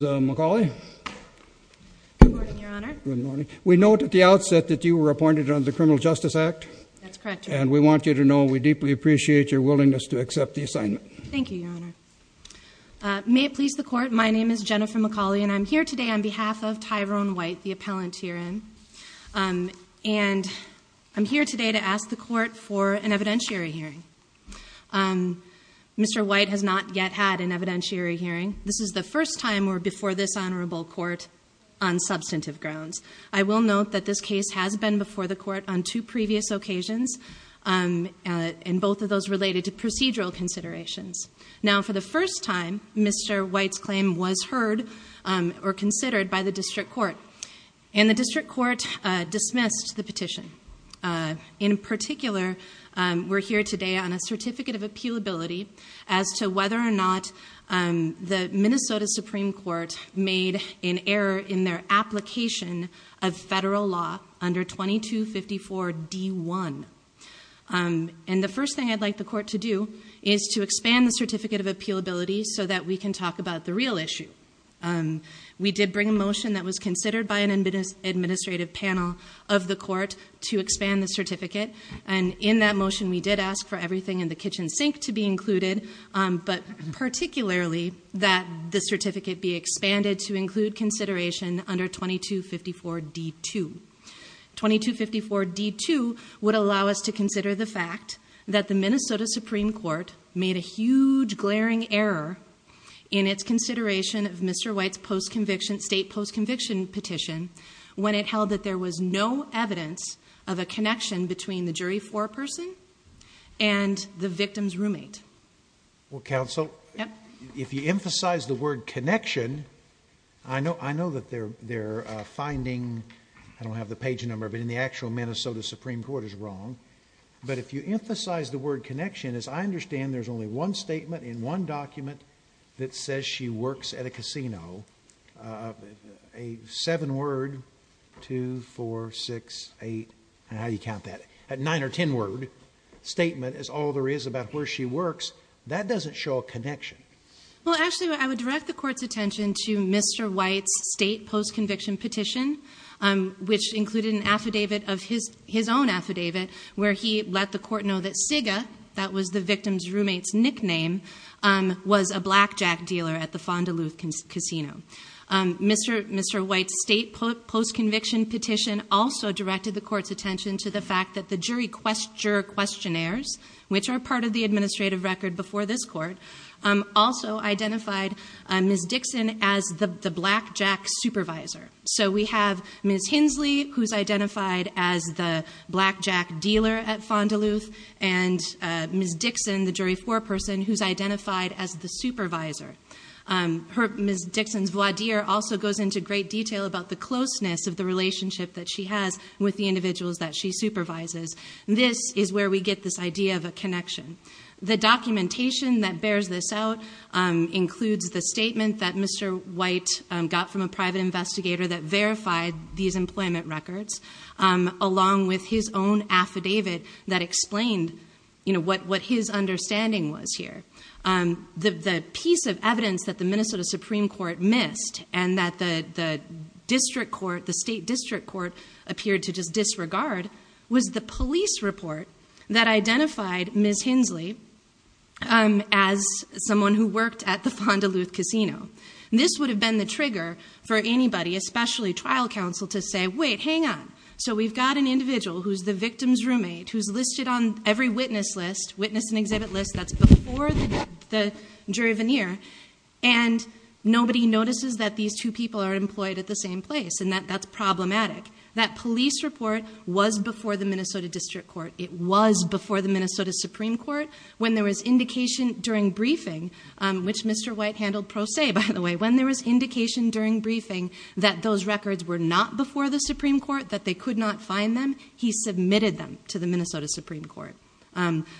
Ms. McAuley. Good morning, Your Honor. Good morning. We know at the outset that you were appointed under the Criminal Justice Act. That's correct, Your Honor. And we want you to know we deeply appreciate your willingness to accept the assignment. Thank you, Your Honor. May it please the Court, my name is Jennifer McAuley, and I'm here today on behalf of Tyrone White, the appellant herein. And I'm here today to ask the Court for an evidentiary hearing. Mr. White has not yet had an evidentiary hearing. This is the first time we're before this Honorable Court on substantive grounds. I will note that this case has been before the Court on two previous occasions, and both of those related to procedural considerations. Now, for the first time, Mr. White's claim was heard or considered by the District Court, and the District Court dismissed the petition. In particular, we're here today on a certificate of appealability as to whether or not the Minnesota Supreme Court made an error in their application of federal law under 2254 D1. And the first thing I'd like the Court to do is to expand the certificate of appealability so that we can talk about the real issue. We did bring a motion that was considered by an administrative panel of the Court to expand the certificate. And in that motion, we did ask for everything in the kitchen sink to be included, but particularly that the certificate be expanded to include consideration under 2254 D2. 2254 D2 would allow us to consider the fact that the Minnesota Supreme Court made a huge, glaring error in its consideration of Mr. White's state post-conviction petition when it held that there was no evidence of a connection between the jury foreperson and the victim's roommate. Well, Counsel, if you emphasize the word connection, I know that they're finding, I don't have the page number, but in the actual Minnesota Supreme Court is wrong. But if you emphasize the word connection, as I understand, there's only one statement in one document that says she works at a casino. A seven word, two, four, six, eight, and how do you count that? A nine or ten word statement is all there is about where she works. That doesn't show a connection. Well, actually, I would direct the court's attention to Mr. White's state post-conviction petition, which included an affidavit of his own affidavit where he let the court know that Siga, that was the victim's roommate's nickname, was a blackjack dealer at the Fond du Lhut Casino. Mr. White's state post-conviction petition also directed the court's attention to the fact that the jury questionnaires, which are part of the administrative record before this court, also identified Ms. Dixon as the blackjack supervisor. So we have Ms. Hinsley, who's identified as the blackjack dealer at Fond du Lhut, and Ms. Dixon, the jury foreperson, who's identified as the supervisor. Ms. Dixon's voir dire also goes into great detail about the closeness of the relationship that she has with the individuals that she supervises. This is where we get this idea of a connection. The documentation that bears this out includes the statement that Mr. White got from a private investigator that verified these employment records, along with his own affidavit that explained what his understanding was here. The piece of evidence that the Minnesota Supreme Court missed, and that the district court, the state district court, appeared to just disregard, was the police report that identified Ms. Hinsley as someone who worked at the Fond du Lhut Casino. This would have been the trigger for anybody, especially trial counsel, to say, wait, hang on. So we've got an individual who's the victim's roommate, who's listed on every witness list, witness and the jury veneer, and nobody notices that these two people are employed at the same place, and that's problematic. That police report was before the Minnesota District Court. It was before the Minnesota Supreme Court. When there was indication during briefing, which Mr. White handled pro se, by the way. When there was indication during briefing that those records were not before the Supreme Court, that they could not find them, he submitted them to the Minnesota Supreme Court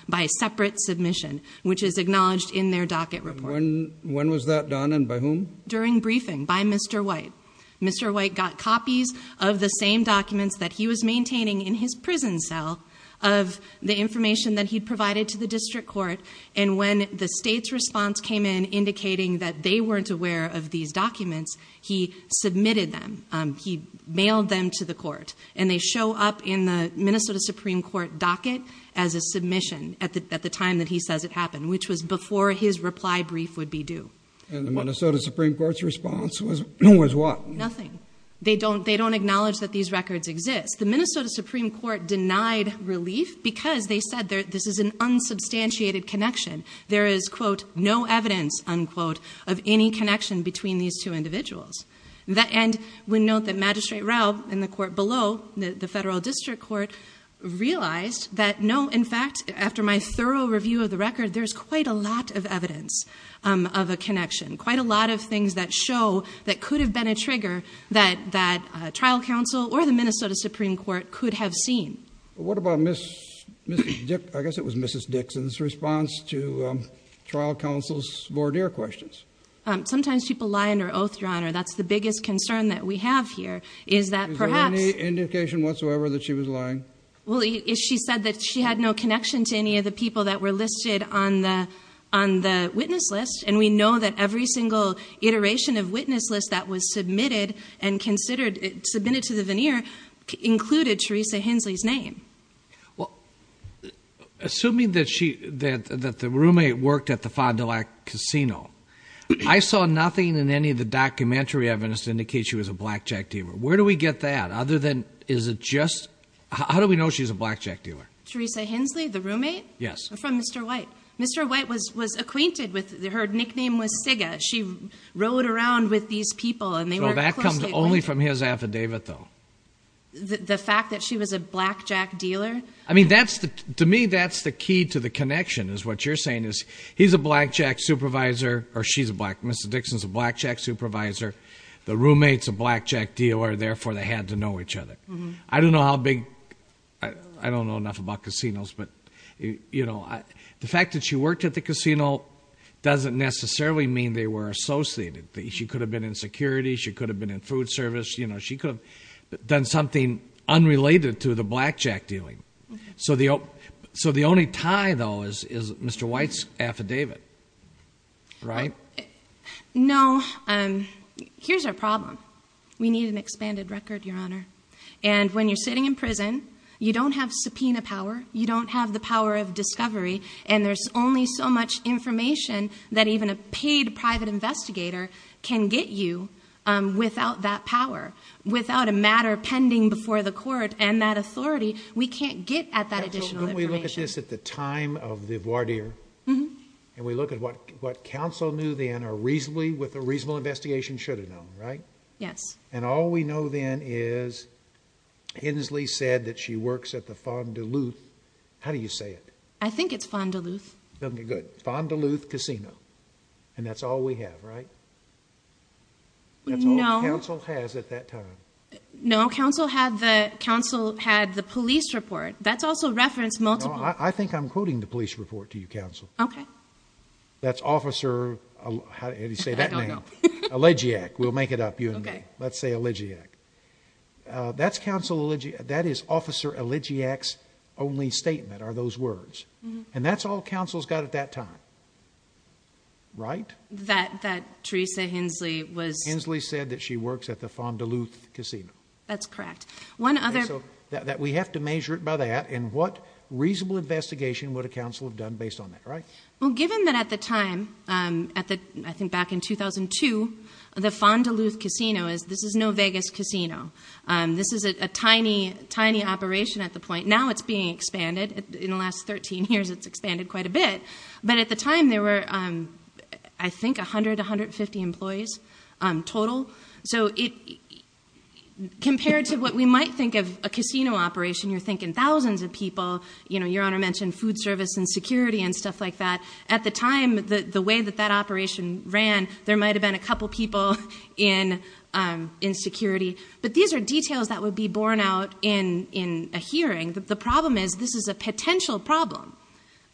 by separate submission, which is acknowledged in their docket report. When was that done and by whom? During briefing by Mr. White. Mr. White got copies of the same documents that he was maintaining in his prison cell of the information that he provided to the district court. And when the state's response came in indicating that they weren't aware of these documents, he submitted them. He mailed them to the court. And they show up in the Minnesota Supreme Court docket as a submission at the time that he says it happened, which was before his reply brief would be due. And the Minnesota Supreme Court's response was what? Nothing. They don't acknowledge that these records exist. The Minnesota Supreme Court denied relief because they said this is an unsubstantiated connection. There is, quote, no evidence, unquote, of any connection between these two individuals. And we note that Magistrate Rao in the court below, the federal district court, realized that no, in fact, after my thorough review of the record, there's quite a lot of evidence of a connection, quite a lot of things that show that could have been a trigger that trial counsel or the Minnesota Supreme Court could have seen. What about, I guess it was Mrs. Dixon's response to trial counsel's voir dire questions? Sometimes people lie under oath, Your Honor. That's the biggest concern that we have here, is that perhaps- Is there any indication whatsoever that she was lying? Well, she said that she had no connection to any of the people that were listed on the witness list. And we know that every single iteration of witness list that was submitted to the veneer included Teresa Hensley's name. Well, assuming that the roommate worked at the Fond du Lac Casino, I saw nothing in any of the documentary evidence to indicate she was a blackjack dealer. Where do we get that? Other than, is it just, how do we know she's a blackjack dealer? Teresa Hensley, the roommate? Yes. From Mr. White. Mr. White was acquainted with, her nickname was Siga. She rode around with these people and they were closely linked. So that comes only from his affidavit, though? The fact that she was a blackjack dealer? I mean, to me, that's the key to the connection, is what you're saying, is he's a blackjack supervisor, or she's a blackjack supervisor. The roommate's a blackjack dealer, therefore they had to know each other. I don't know how big, I don't know enough about casinos. But the fact that she worked at the casino doesn't necessarily mean they were associated. She could have been in security. She could have been in food service. She could have done something unrelated to the blackjack dealing. So the only tie, though, is Mr. White's affidavit, right? No. Here's our problem. We need an expanded record, Your Honor. And when you're sitting in prison, you don't have subpoena power. You don't have the power of discovery. And there's only so much information that even a paid private investigator can get you without that power. Without a matter pending before the court and that authority, we can't get at that additional information. So when we look at this at the time of the voir dire, and we look at what counsel knew then, or reasonably, with a reasonable investigation, should have known, right? Yes. And all we know then is Hensley said that she works at the Fond du Loup. How do you say it? I think it's Fond du Loup. Okay, good. Fond du Loup Casino. And that's all we have, right? No. That's all counsel has at that time. No, counsel had the police report. That's also reference multiple. No, I think I'm quoting the police report to you, counsel. Okay. That's Officer, how do you say that name? Elegiac. We'll make it up, you and me. Let's say Elegiac. That's counsel Elegiac, that is Officer Elegiac's only statement are those words. And that's all counsel's got at that time, right? That Theresa Hensley was. Hensley said that she works at the Fond du Loup Casino. That's correct. One other. So that we have to measure it by that, and what reasonable investigation would a counsel have done based on that, right? Well, given that at the time, I think back in 2002, the Fond du Loup Casino is, this is no Vegas casino. This is a tiny, tiny operation at the point. Now it's being expanded. In the last 13 years, it's expanded quite a bit. But at the time, there were, I think, 100, 150 employees total. So compared to what we might think of a casino operation, you're thinking thousands of people. Your Honor mentioned food service and security and stuff like that. At the time, the way that that operation ran, there might have been a couple people in security. But these are details that would be borne out in a hearing. The problem is, this is a potential problem.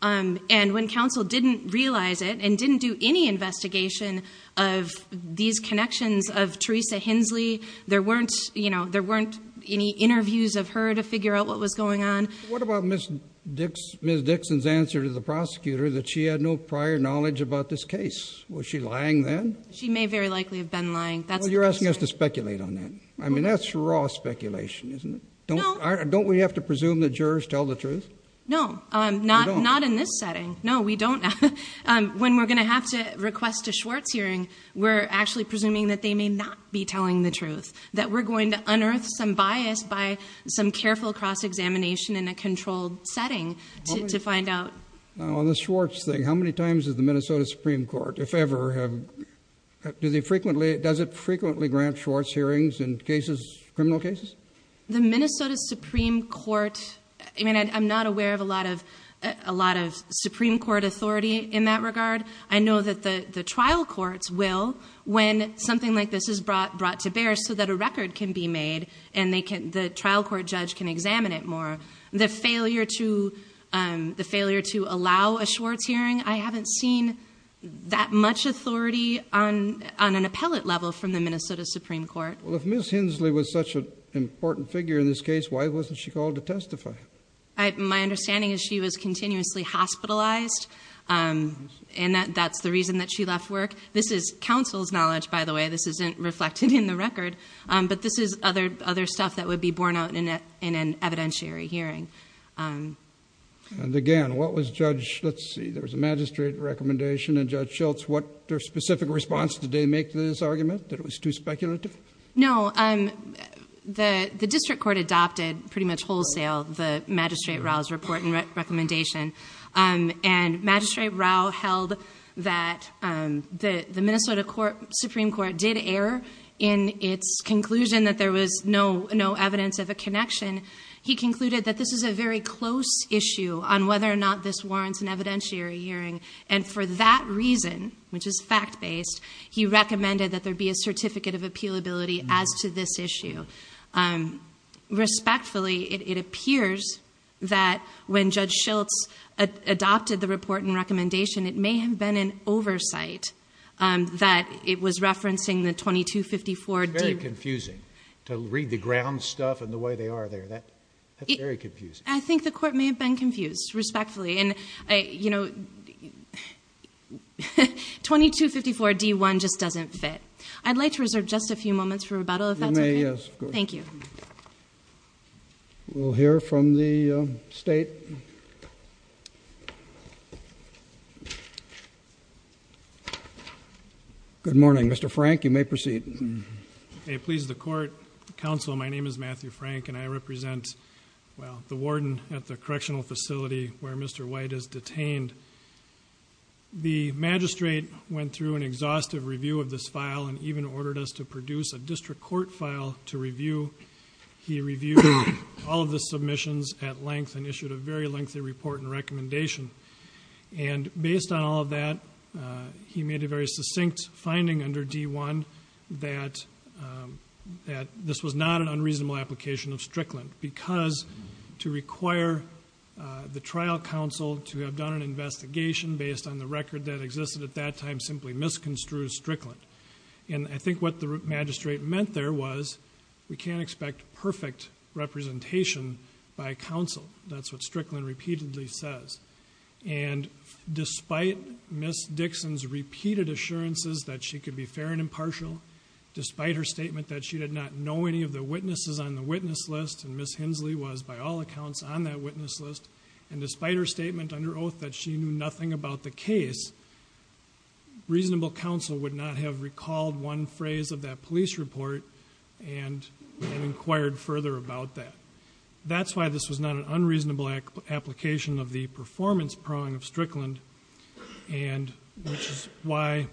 And when counsel didn't realize it and didn't do any investigation of these connections of Theresa Hensley, there weren't any interviews of her to figure out what was going on. What about Ms. Dixon's answer to the prosecutor that she had no prior knowledge about this case? Was she lying then? She may very likely have been lying. Well, you're asking us to speculate on that. I mean, that's raw speculation, isn't it? Don't we have to presume that jurors tell the truth? No, not in this setting. No, we don't. When we're going to have to request a Schwartz hearing, we're actually presuming that they may not be telling the truth, that we're going to unearth some bias by some careful cross-examination in a controlled setting to find out. Now, on the Schwartz thing, how many times has the Minnesota Supreme Court, if ever, does it frequently grant Schwartz hearings in criminal cases? The Minnesota Supreme Court, I mean, I'm not aware of a lot of Supreme Court authority in that regard. I know that the trial courts will when something like this is brought to bear so that a record can be made and the trial court judge can examine it more. The failure to allow a Schwartz hearing, I haven't seen that much authority on an appellate level from the Minnesota Supreme Court. Well, if Ms. Hensley was such an important figure in this case, why wasn't she called to testify? My understanding is she was continuously hospitalized, and that's the reason that she left work. This is counsel's knowledge, by the way. This isn't reflected in the record, but this is other stuff that would be borne out in an evidentiary hearing. And again, what was Judge, let's see, there was a magistrate recommendation, and Judge Schultz, what specific response did they make to this argument, that it was too speculative? No, the district court adopted pretty much wholesale the magistrate Rao's report and recommendation. And Magistrate Rao held that the Minnesota Supreme Court did err in its conclusion that there was no evidence of a connection. He concluded that this is a very close issue on whether or not this warrants an evidentiary hearing. And for that reason, which is fact-based, he recommended that there be a certificate of appealability as to this issue. Respectfully, it appears that when Judge Schultz adopted the report and recommendation, it may have been an oversight that it was referencing the 2254- It's very confusing to read the ground stuff and the way they are there. That's very confusing. I think the court may have been confused, respectfully. And 2254-D1 just doesn't fit. I'd like to reserve just a few moments for rebuttal, if that's okay. You may, yes, of course. Thank you. We'll hear from the state. Good morning. Mr. Frank, you may proceed. May it please the court, counsel, my name is Matthew Frank, and I represent, well, the warden at the correctional facility where Mr. White is detained. The magistrate went through an exhaustive review of this file and even ordered us to produce a district court file to review. He reviewed all of the submissions at length and issued a very lengthy report and recommendation. And based on all of that, he made a very succinct finding under D1 that this was not an unreasonable application of Strickland. Because to require the trial counsel to have done an investigation based on the record that existed at that time simply misconstrued Strickland. And I think what the magistrate meant there was we can't expect perfect representation by counsel. That's what Strickland repeatedly says. And despite Ms. Dixon's repeated assurances that she could be fair and impartial, despite her statement that she did not know any of the witnesses on the witness list. And Ms. Hensley was, by all accounts, on that witness list. And despite her statement under oath that she knew nothing about the case, reasonable counsel would not have recalled one phrase of that police report and inquired further about that. That's why this was not an unreasonable application of the performance prong of Strickland. And which is why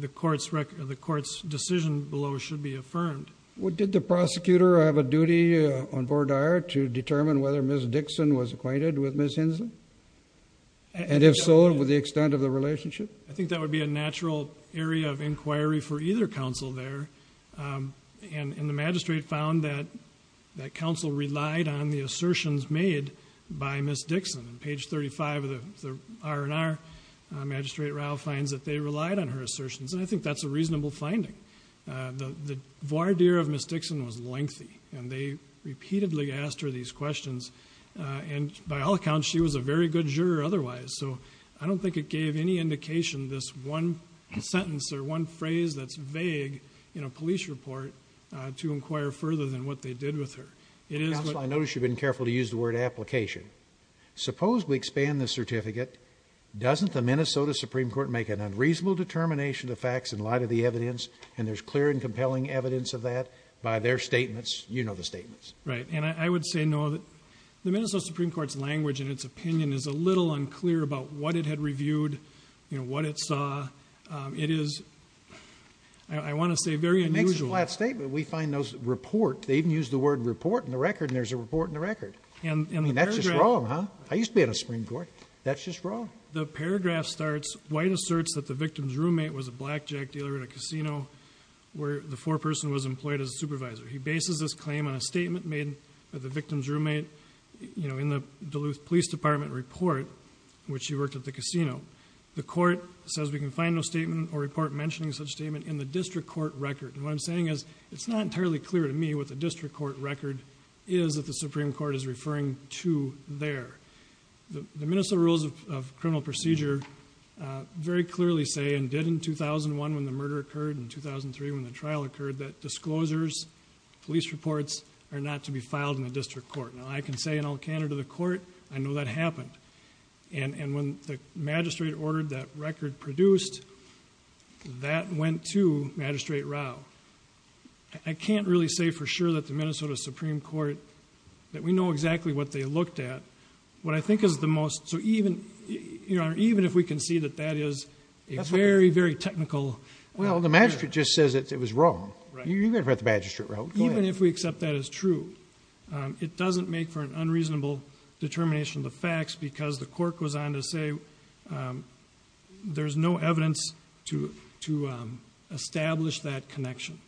the court's decision below should be affirmed. Well, did the prosecutor have a duty on board to determine whether Ms. Dixon was acquainted with Ms. Hensley? And if so, what was the extent of the relationship? I think that would be a natural area of inquiry for either counsel there. And the magistrate found that counsel relied on the assertions made by Ms. Dixon. On page 35 of the R&R, Magistrate Rao finds that they relied on her assertions. And I think that's a reasonable finding. The voir dire of Ms. Dixon was lengthy. And they repeatedly asked her these questions. And by all accounts, she was a very good juror otherwise. So I don't think it gave any indication this one sentence or one phrase that's vague in a police report to inquire further than what they did with her. Counsel, I notice you've been careful to use the word application. Suppose we expand the certificate. Doesn't the Minnesota Supreme Court make an unreasonable determination of facts in light of the evidence? And there's clear and compelling evidence of that by their statements? You know the statements. Right. And I would say no. The Minnesota Supreme Court's language and its opinion is a little unclear about what it had reviewed. You know, what it saw. It is, I want to say, very unusual. It's a flat statement. We find those report, they even use the word report in the record and there's a report in the record. And that's just wrong, huh? I used to be in a Supreme Court. That's just wrong. The paragraph starts, White asserts that the victim's roommate was a blackjack dealer at a casino where the foreperson was employed as a supervisor. He bases this claim on a statement made by the victim's roommate in the Duluth Police Department report, which he worked at the casino. The court says we can find no statement or report mentioning such statement in the district court record. And what I'm saying is, it's not entirely clear to me what the district court record is that the Supreme Court is referring to there. The Minnesota Rules of Criminal Procedure very clearly say, and did in 2001 when the murder occurred and 2003 when the trial occurred, that disclosures, police reports, are not to be filed in the district court. Now I can say in all candor to the court, I know that happened. And when the magistrate ordered that record produced, that went to Magistrate Rao. I can't really say for sure that the Minnesota Supreme Court, that we know exactly what they looked at. What I think is the most, so even if we can see that that is a very, very technical- Well, the magistrate just says it was wrong. You've never heard the magistrate, Rao, go ahead. Even if we accept that as true, it doesn't make for a good case because the court goes on to say there's no evidence to establish that connection.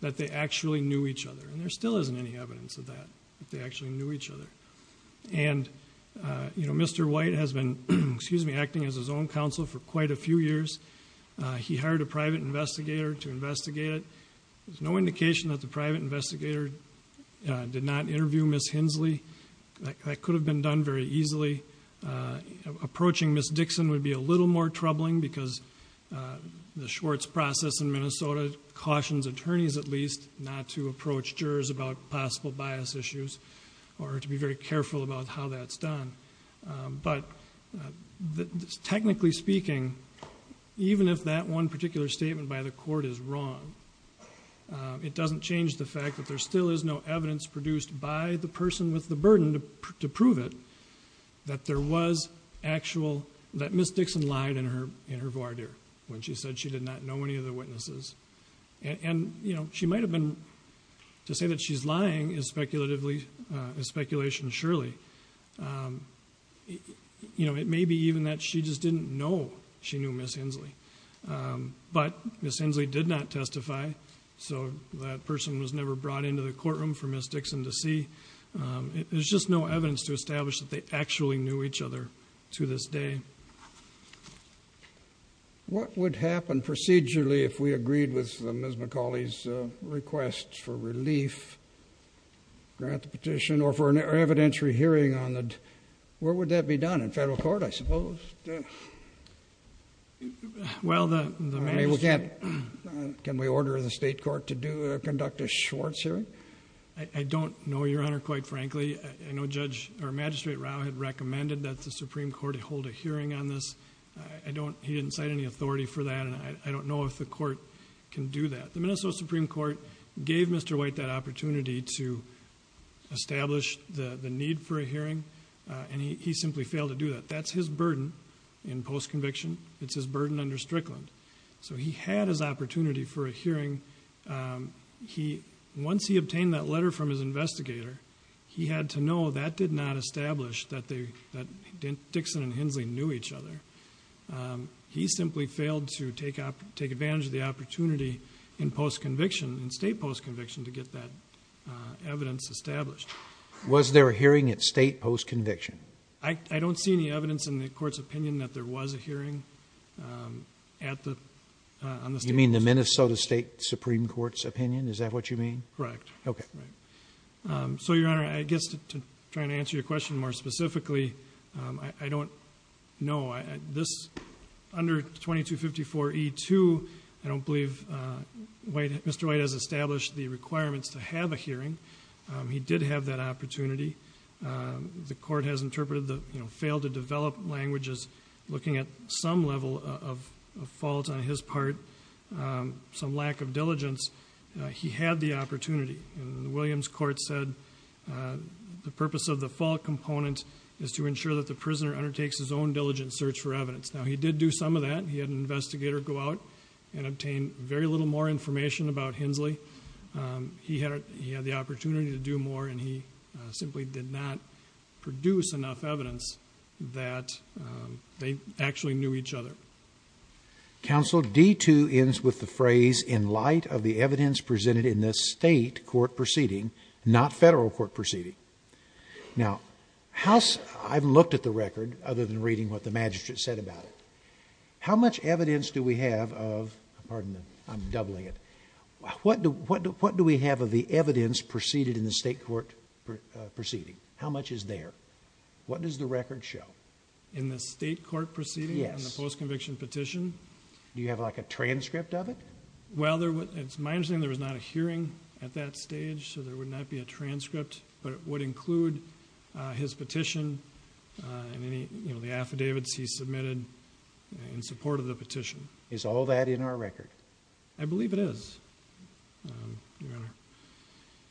That they actually knew each other, and there still isn't any evidence of that, that they actually knew each other. And Mr. White has been, excuse me, acting as his own counsel for quite a few years. He hired a private investigator to investigate it. There's no indication that the private investigator did not interview Ms. Hensley. That could have been done very easily. Approaching Ms. Dixon would be a little more troubling because the Schwartz process in Minnesota cautions attorneys at least not to approach jurors about possible bias issues. Or to be very careful about how that's done. But, technically speaking, even if that one particular statement by the court is wrong, it doesn't change the fact that there still is no evidence produced by the person with the burden to prove it. That there was actual, that Ms. Dixon lied in her voir dire when she said she did not know any of the witnesses. And she might have been, to say that she's lying is speculation surely. It may be even that she just didn't know she knew Ms. Hensley. But Ms. Hensley did not testify. So that person was never brought into the courtroom for Ms. Dixon to see. There's just no evidence to establish that they actually knew each other to this day. What would happen procedurally if we agreed with Ms. McCauley's request for relief? Grant the petition or for an evidentiary hearing on the, where would that be done? In federal court, I suppose? Well, the- I mean, we can't, can we order the state court to do, conduct a Schwartz hearing? I don't know, Your Honor, quite frankly. I know Judge, or Magistrate Rao had recommended that the Supreme Court hold a hearing on this. I don't, he didn't cite any authority for that, and I don't know if the court can do that. The Minnesota Supreme Court gave Mr. White that opportunity to establish the need for a hearing. And he simply failed to do that. That's his burden in post-conviction. It's his burden under Strickland. So he had his opportunity for a hearing. He, once he obtained that letter from his investigator, he had to know that did not establish that they, that Dixon and Hensley knew each other. He simply failed to take advantage of the opportunity in post-conviction, in state post-conviction, to get that evidence established. Was there a hearing at state post-conviction? I, I don't see any evidence in the court's opinion that there was a hearing at the, on the state post-conviction. You mean the Minnesota State Supreme Court's opinion? Is that what you mean? Correct. Okay. Right. So, Your Honor, I guess to, to try and answer your question more specifically, I, I don't know. This, under 2254E2, I don't believe White, Mr. White has established the requirements to have a hearing. He did have that opportunity. The court has interpreted the, you know, failed to develop language as looking at some level of, of fault on his part. Some lack of diligence. He had the opportunity, and the Williams court said the purpose of the fault component is to ensure that the prisoner undertakes his own diligent search for evidence. Now, he did do some of that. He had an investigator go out and obtain very little more information about Hensley. He had, he had the opportunity to do more, and he simply did not produce enough evidence that they actually knew each other. Counsel, D2 ends with the phrase, in light of the evidence presented in this state court proceeding, not federal court proceeding. Now, how's, I've looked at the record, other than reading what the magistrate said about it. How much evidence do we have of, pardon me, I'm doubling it. What do, what do, what do we have of the evidence preceded in the state court proceeding? How much is there? What does the record show? In the state court proceeding? Yes. On the post-conviction petition? Do you have like a transcript of it? Well, there was, it's my understanding there was not a hearing at that stage, so there would not be a transcript. But it would include his petition and any, you know, the affidavits he submitted in support of the petition. Is all that in our record? I believe it is, Your Honor.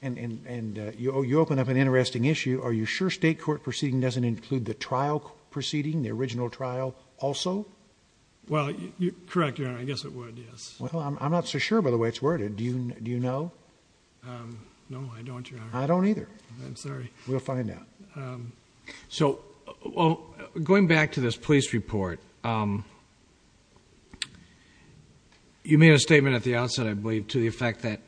And you open up an interesting issue. Are you sure state court proceeding doesn't include the trial proceeding, the original trial also? Well, correct, Your Honor, I guess it would, yes. Well, I'm not so sure by the way it's worded. Do you know? No, I don't, Your Honor. I don't either. I'm sorry. We'll find out. So, going back to this police report, you made a statement at the outset, I believe, to the effect that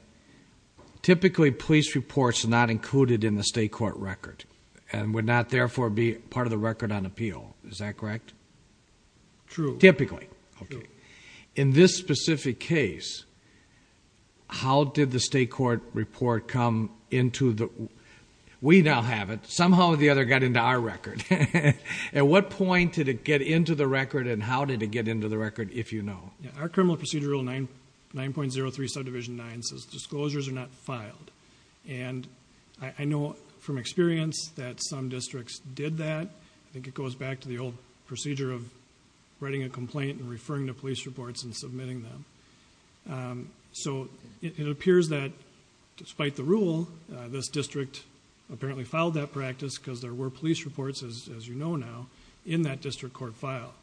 typically police reports are not included in the state court record. And would not, therefore, be part of the record on appeal. Is that correct? True. Typically. Okay. In this specific case, how did the state court report come into the, we now have it, somehow or the other got into our record. At what point did it get into the record and how did it get into the record, if you know? Our criminal procedure rule 9.03 subdivision 9 says disclosures are not filed. And I know from experience that some districts did that. I think it goes back to the old procedure of writing a complaint and referring to police reports and submitting them. So, it appears that despite the rule, this district apparently filed that practice, because there were police reports, as you know now, in that district court file.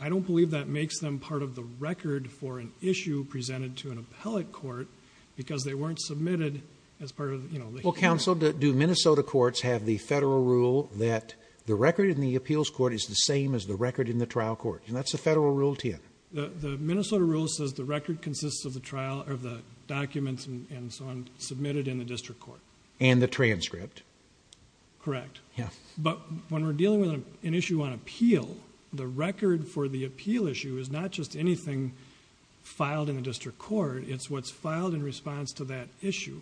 I don't believe that makes them part of the record for an issue presented to an appellate court, because they weren't submitted as part of the. Well, counsel, do Minnesota courts have the federal rule that the record in the appeals court is the same as the record in the trial court? And that's the federal rule 10. The Minnesota rule says the record consists of the trial, or the documents, and so on, submitted in the district court. And the transcript. Correct. Yeah. But when we're dealing with an issue on appeal, the record for the appeal issue is not just anything filed in the district court. It's what's filed in response to that issue.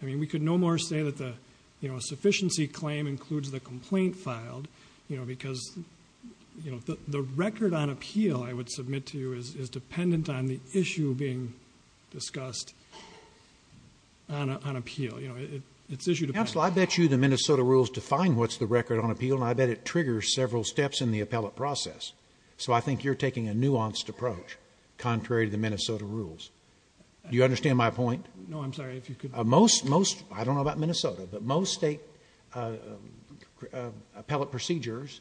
I mean, we could no more say that the, you know, a sufficiency claim includes the complaint filed, you know, because, you know, the record on appeal, I would submit to you, is dependent on the issue being discussed on appeal. You know, it's issue dependent. Counsel, I bet you the Minnesota rules define what's the record on appeal, and I bet it triggers several steps in the appellate process. So I think you're taking a nuanced approach, contrary to the Minnesota rules. Do you understand my point? No, I'm sorry. If you could. Most, most, I don't know about Minnesota, but most state appellate procedures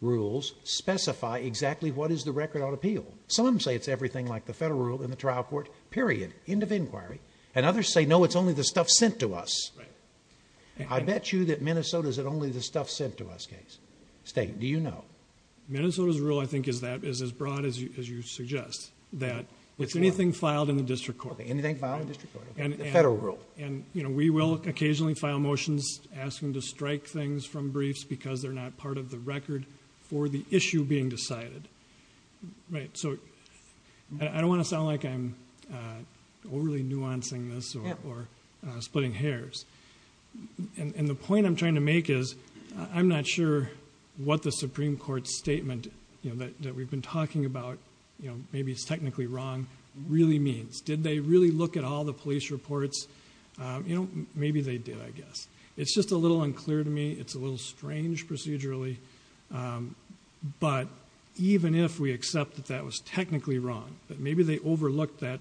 rules specify exactly what is the record on appeal. Some say it's everything like the federal rule in the trial court, period, end of inquiry. And others say, no, it's only the stuff sent to us. I bet you that Minnesota is only the stuff sent to us case. State, do you know? Minnesota's rule, I think, is that, is as broad as you suggest, that it's anything filed in the district court. Anything filed in the district court, the federal rule. And, you know, we will occasionally file motions asking to strike things from briefs because they're not part of the record for the issue being decided. Right. So I don't want to sound like I'm overly nuancing this or splitting hairs. And the point I'm trying to make is I'm not sure what the Supreme Court statement, you know, that we've been talking about, you know, maybe it's technically wrong, really means. Did they really look at all the police reports? You know, maybe they did, I guess. It's just a little unclear to me. It's a little strange procedurally. But even if we accept that that was technically wrong, that maybe they overlooked that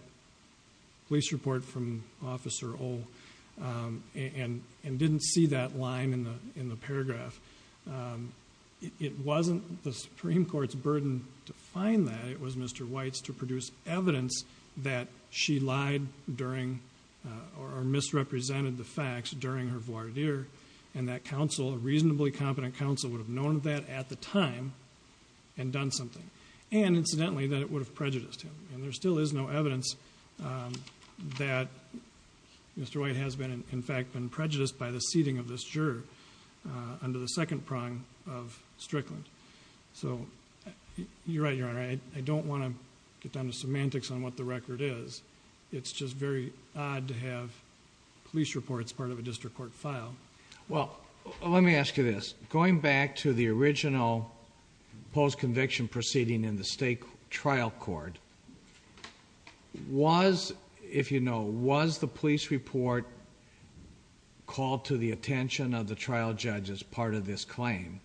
police report from Officer O and didn't see that line in the paragraph. It wasn't the Supreme Court's burden to find that. It was Mr. White's to produce evidence that she lied during, or misrepresented the facts during her voir dire. And that counsel, a reasonably competent counsel, would have known that at the time and done something. And incidentally, that it would have prejudiced him. And there still is no evidence that Mr. White has been, in fact, been prejudiced by the seating of this juror under the second prong of Strickland. So you're right, Your Honor, I don't want to get down to semantics on what the record is. It's just very odd to have police reports part of a district court file. Well, let me ask you this. Going back to the original post-conviction proceeding in the state trial court, was, if you know, was the police report called to the attention of the trial judge as part of this claim?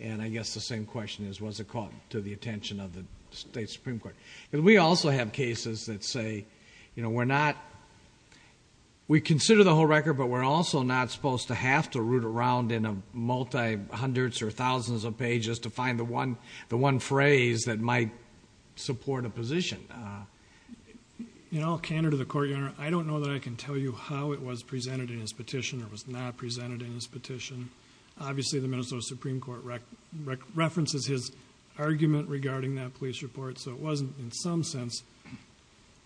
And I guess the same question is, was it called to the attention of the state Supreme Court? And we also have cases that say, you know, we're not, we consider the whole record, but we're also not supposed to have to root around in a multi-hundreds or thousands of pages to find the one phrase that might support a position. In all candor to the Court, Your Honor, I don't know that I can tell you how it was presented in his petition or was not presented in his petition. Obviously, the Minnesota Supreme Court references his argument regarding that police report. So it wasn't, in some sense,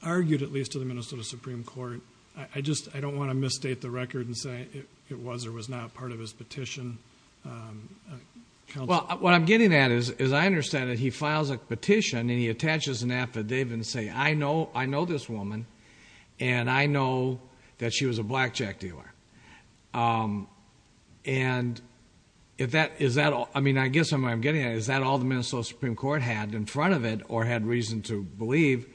argued, at least to the Minnesota Supreme Court. I just, I don't want to misstate the record and say it was or was not part of his petition. Well, what I'm getting at is, as I understand it, he files a petition and he attaches an affidavit and say, I know, I know this woman and I know that she was a blackjack dealer. And if that, is that all, I mean, I guess what I'm getting at, is that all the Minnesota Supreme Court had in front of it or had reason to believe?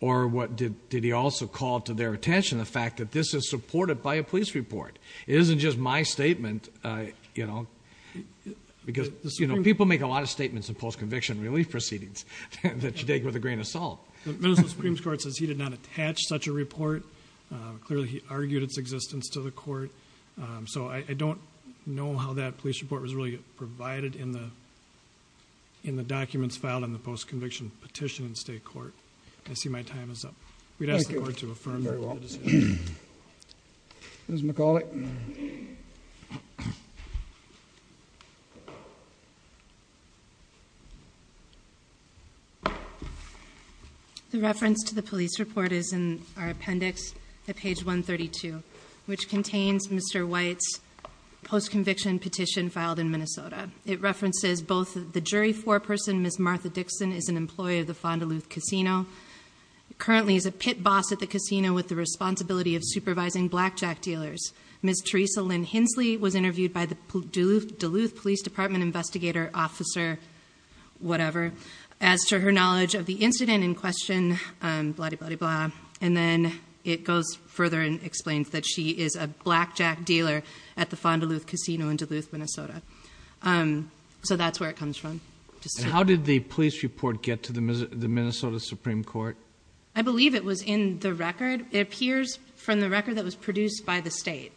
Or what, did he also call to their attention the fact that this is supported by a police report? It isn't just my statement, you know, because people make a lot of statements in post-conviction relief proceedings that you take with a grain of salt. Minnesota Supreme Court says he did not attach such a report. Clearly, he argued its existence to the Court. So I don't know how that police report was really provided in the documents filed in the post-conviction petition in state court. I see my time is up. We'd ask the Court to affirm the decision. Ms. McCauley. The reference to the police report is in our appendix at page 132, which contains Mr. White's post-conviction petition filed in Minnesota. It references both the jury foreperson, Ms. Martha Dixon, is an employee of the Fond du Loup Casino, currently is a pit boss at the casino with the responsibility of supervising blackjack dealers. Ms. Teresa Lynn Hensley was interviewed by the Duluth Police Department investigator, officer, whatever, as to her knowledge of the incident in question, blah-di-blah-di-blah. And then it goes further and explains that she is a blackjack dealer at the Fond du Loup Casino in Duluth, Minnesota. So that's where it comes from. How did the police report get to the Minnesota Supreme Court? I believe it was in the record. It appears from the record that was produced by the state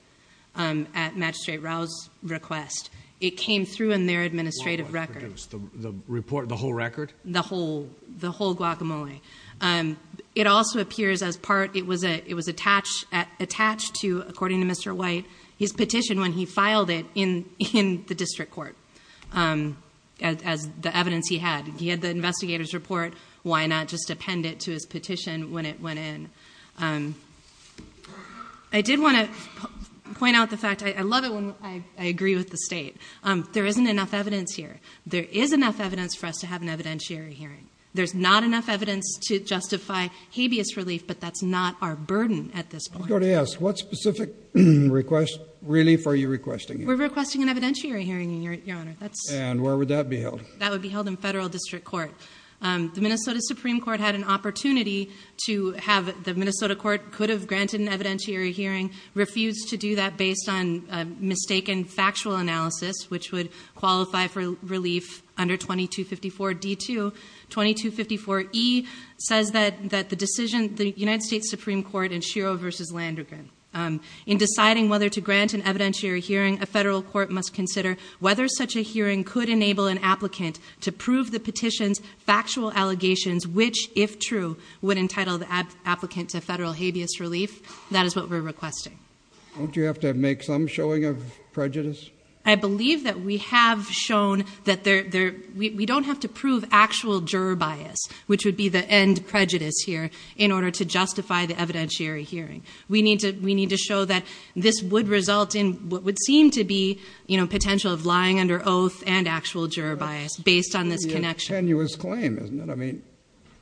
at Magistrate Rao's request. It came through in their administrative record. The report, the whole record? The whole guacamole. It also appears as part, it was attached to, according to Mr. White, his petition when he filed it in the district court. As the evidence he had. He had the investigator's report. Why not just append it to his petition when it went in? I did want to point out the fact, I love it when I agree with the state. There isn't enough evidence here. There is enough evidence for us to have an evidentiary hearing. There's not enough evidence to justify habeas relief, but that's not our burden at this point. I'm going to ask, what specific request, relief, are you requesting? We're requesting an evidentiary hearing, your honor. And where would that be held? That would be held in federal district court. The Minnesota Supreme Court had an opportunity to have, the Minnesota court could have granted an evidentiary hearing. Refused to do that based on a mistaken factual analysis, which would qualify for relief under 2254 D2. 2254 E says that the decision, the United States Supreme Court in Shiro versus Landrigan, in deciding whether to grant an evidentiary hearing, a federal court must consider whether such a hearing could enable an applicant to prove the petition's factual allegations, which if true, would entitle the applicant to federal habeas relief. That is what we're requesting. Don't you have to make some showing of prejudice? I believe that we have shown that we don't have to prove actual juror bias, which would be the end prejudice here, in order to justify the evidentiary hearing. We need to show that this would result in what would seem to be, you know, potential of lying under oath and actual juror bias based on this connection. Tenuous claim, isn't it? I mean,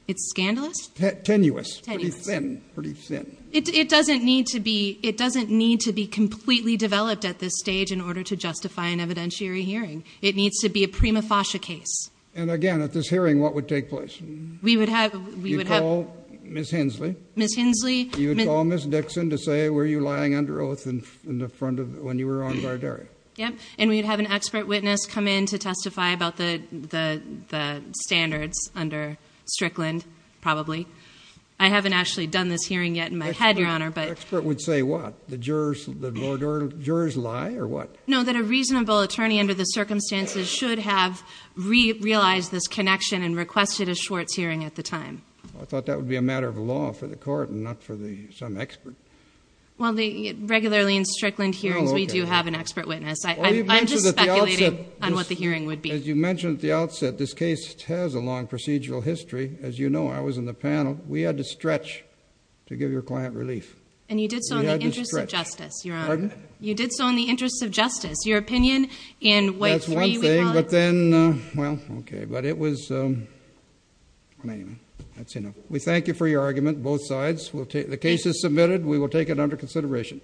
it's scandalous. Tenuous, pretty thin, pretty thin. It doesn't need to be, it doesn't need to be completely developed at this stage in order to justify an evidentiary hearing. It needs to be a prima facie case. And again, at this hearing, what would take place? We would have, we would have... You'd call Ms. Hensley. Ms. Hensley. You'd call Ms. Dixon to say, were you lying under oath in the front of, when you were on guard area? Yep. And we'd have an expert witness come in to testify about the standards under Strickland, probably. I haven't actually done this hearing yet in my head, Your Honor, but... Expert would say what? The jurors lie or what? No, that a reasonable attorney under the circumstances should have realized this connection and requested a Schwartz hearing at the time. I thought that would be a matter of law for the court and not for the, some expert. Well, they, regularly in Strickland hearings, we do have an expert witness. I'm just speculating on what the hearing would be. As you mentioned at the outset, this case has a long procedural history. As you know, I was in the panel. We had to stretch to give your client relief. And you did so in the interest of justice, Your Honor. You did so in the interest of justice. Your opinion in way three, we call it... That's one thing, but then, well, okay. But it was, anyway, that's enough. We thank you for your argument, both sides. The case is submitted. We will take it under consideration.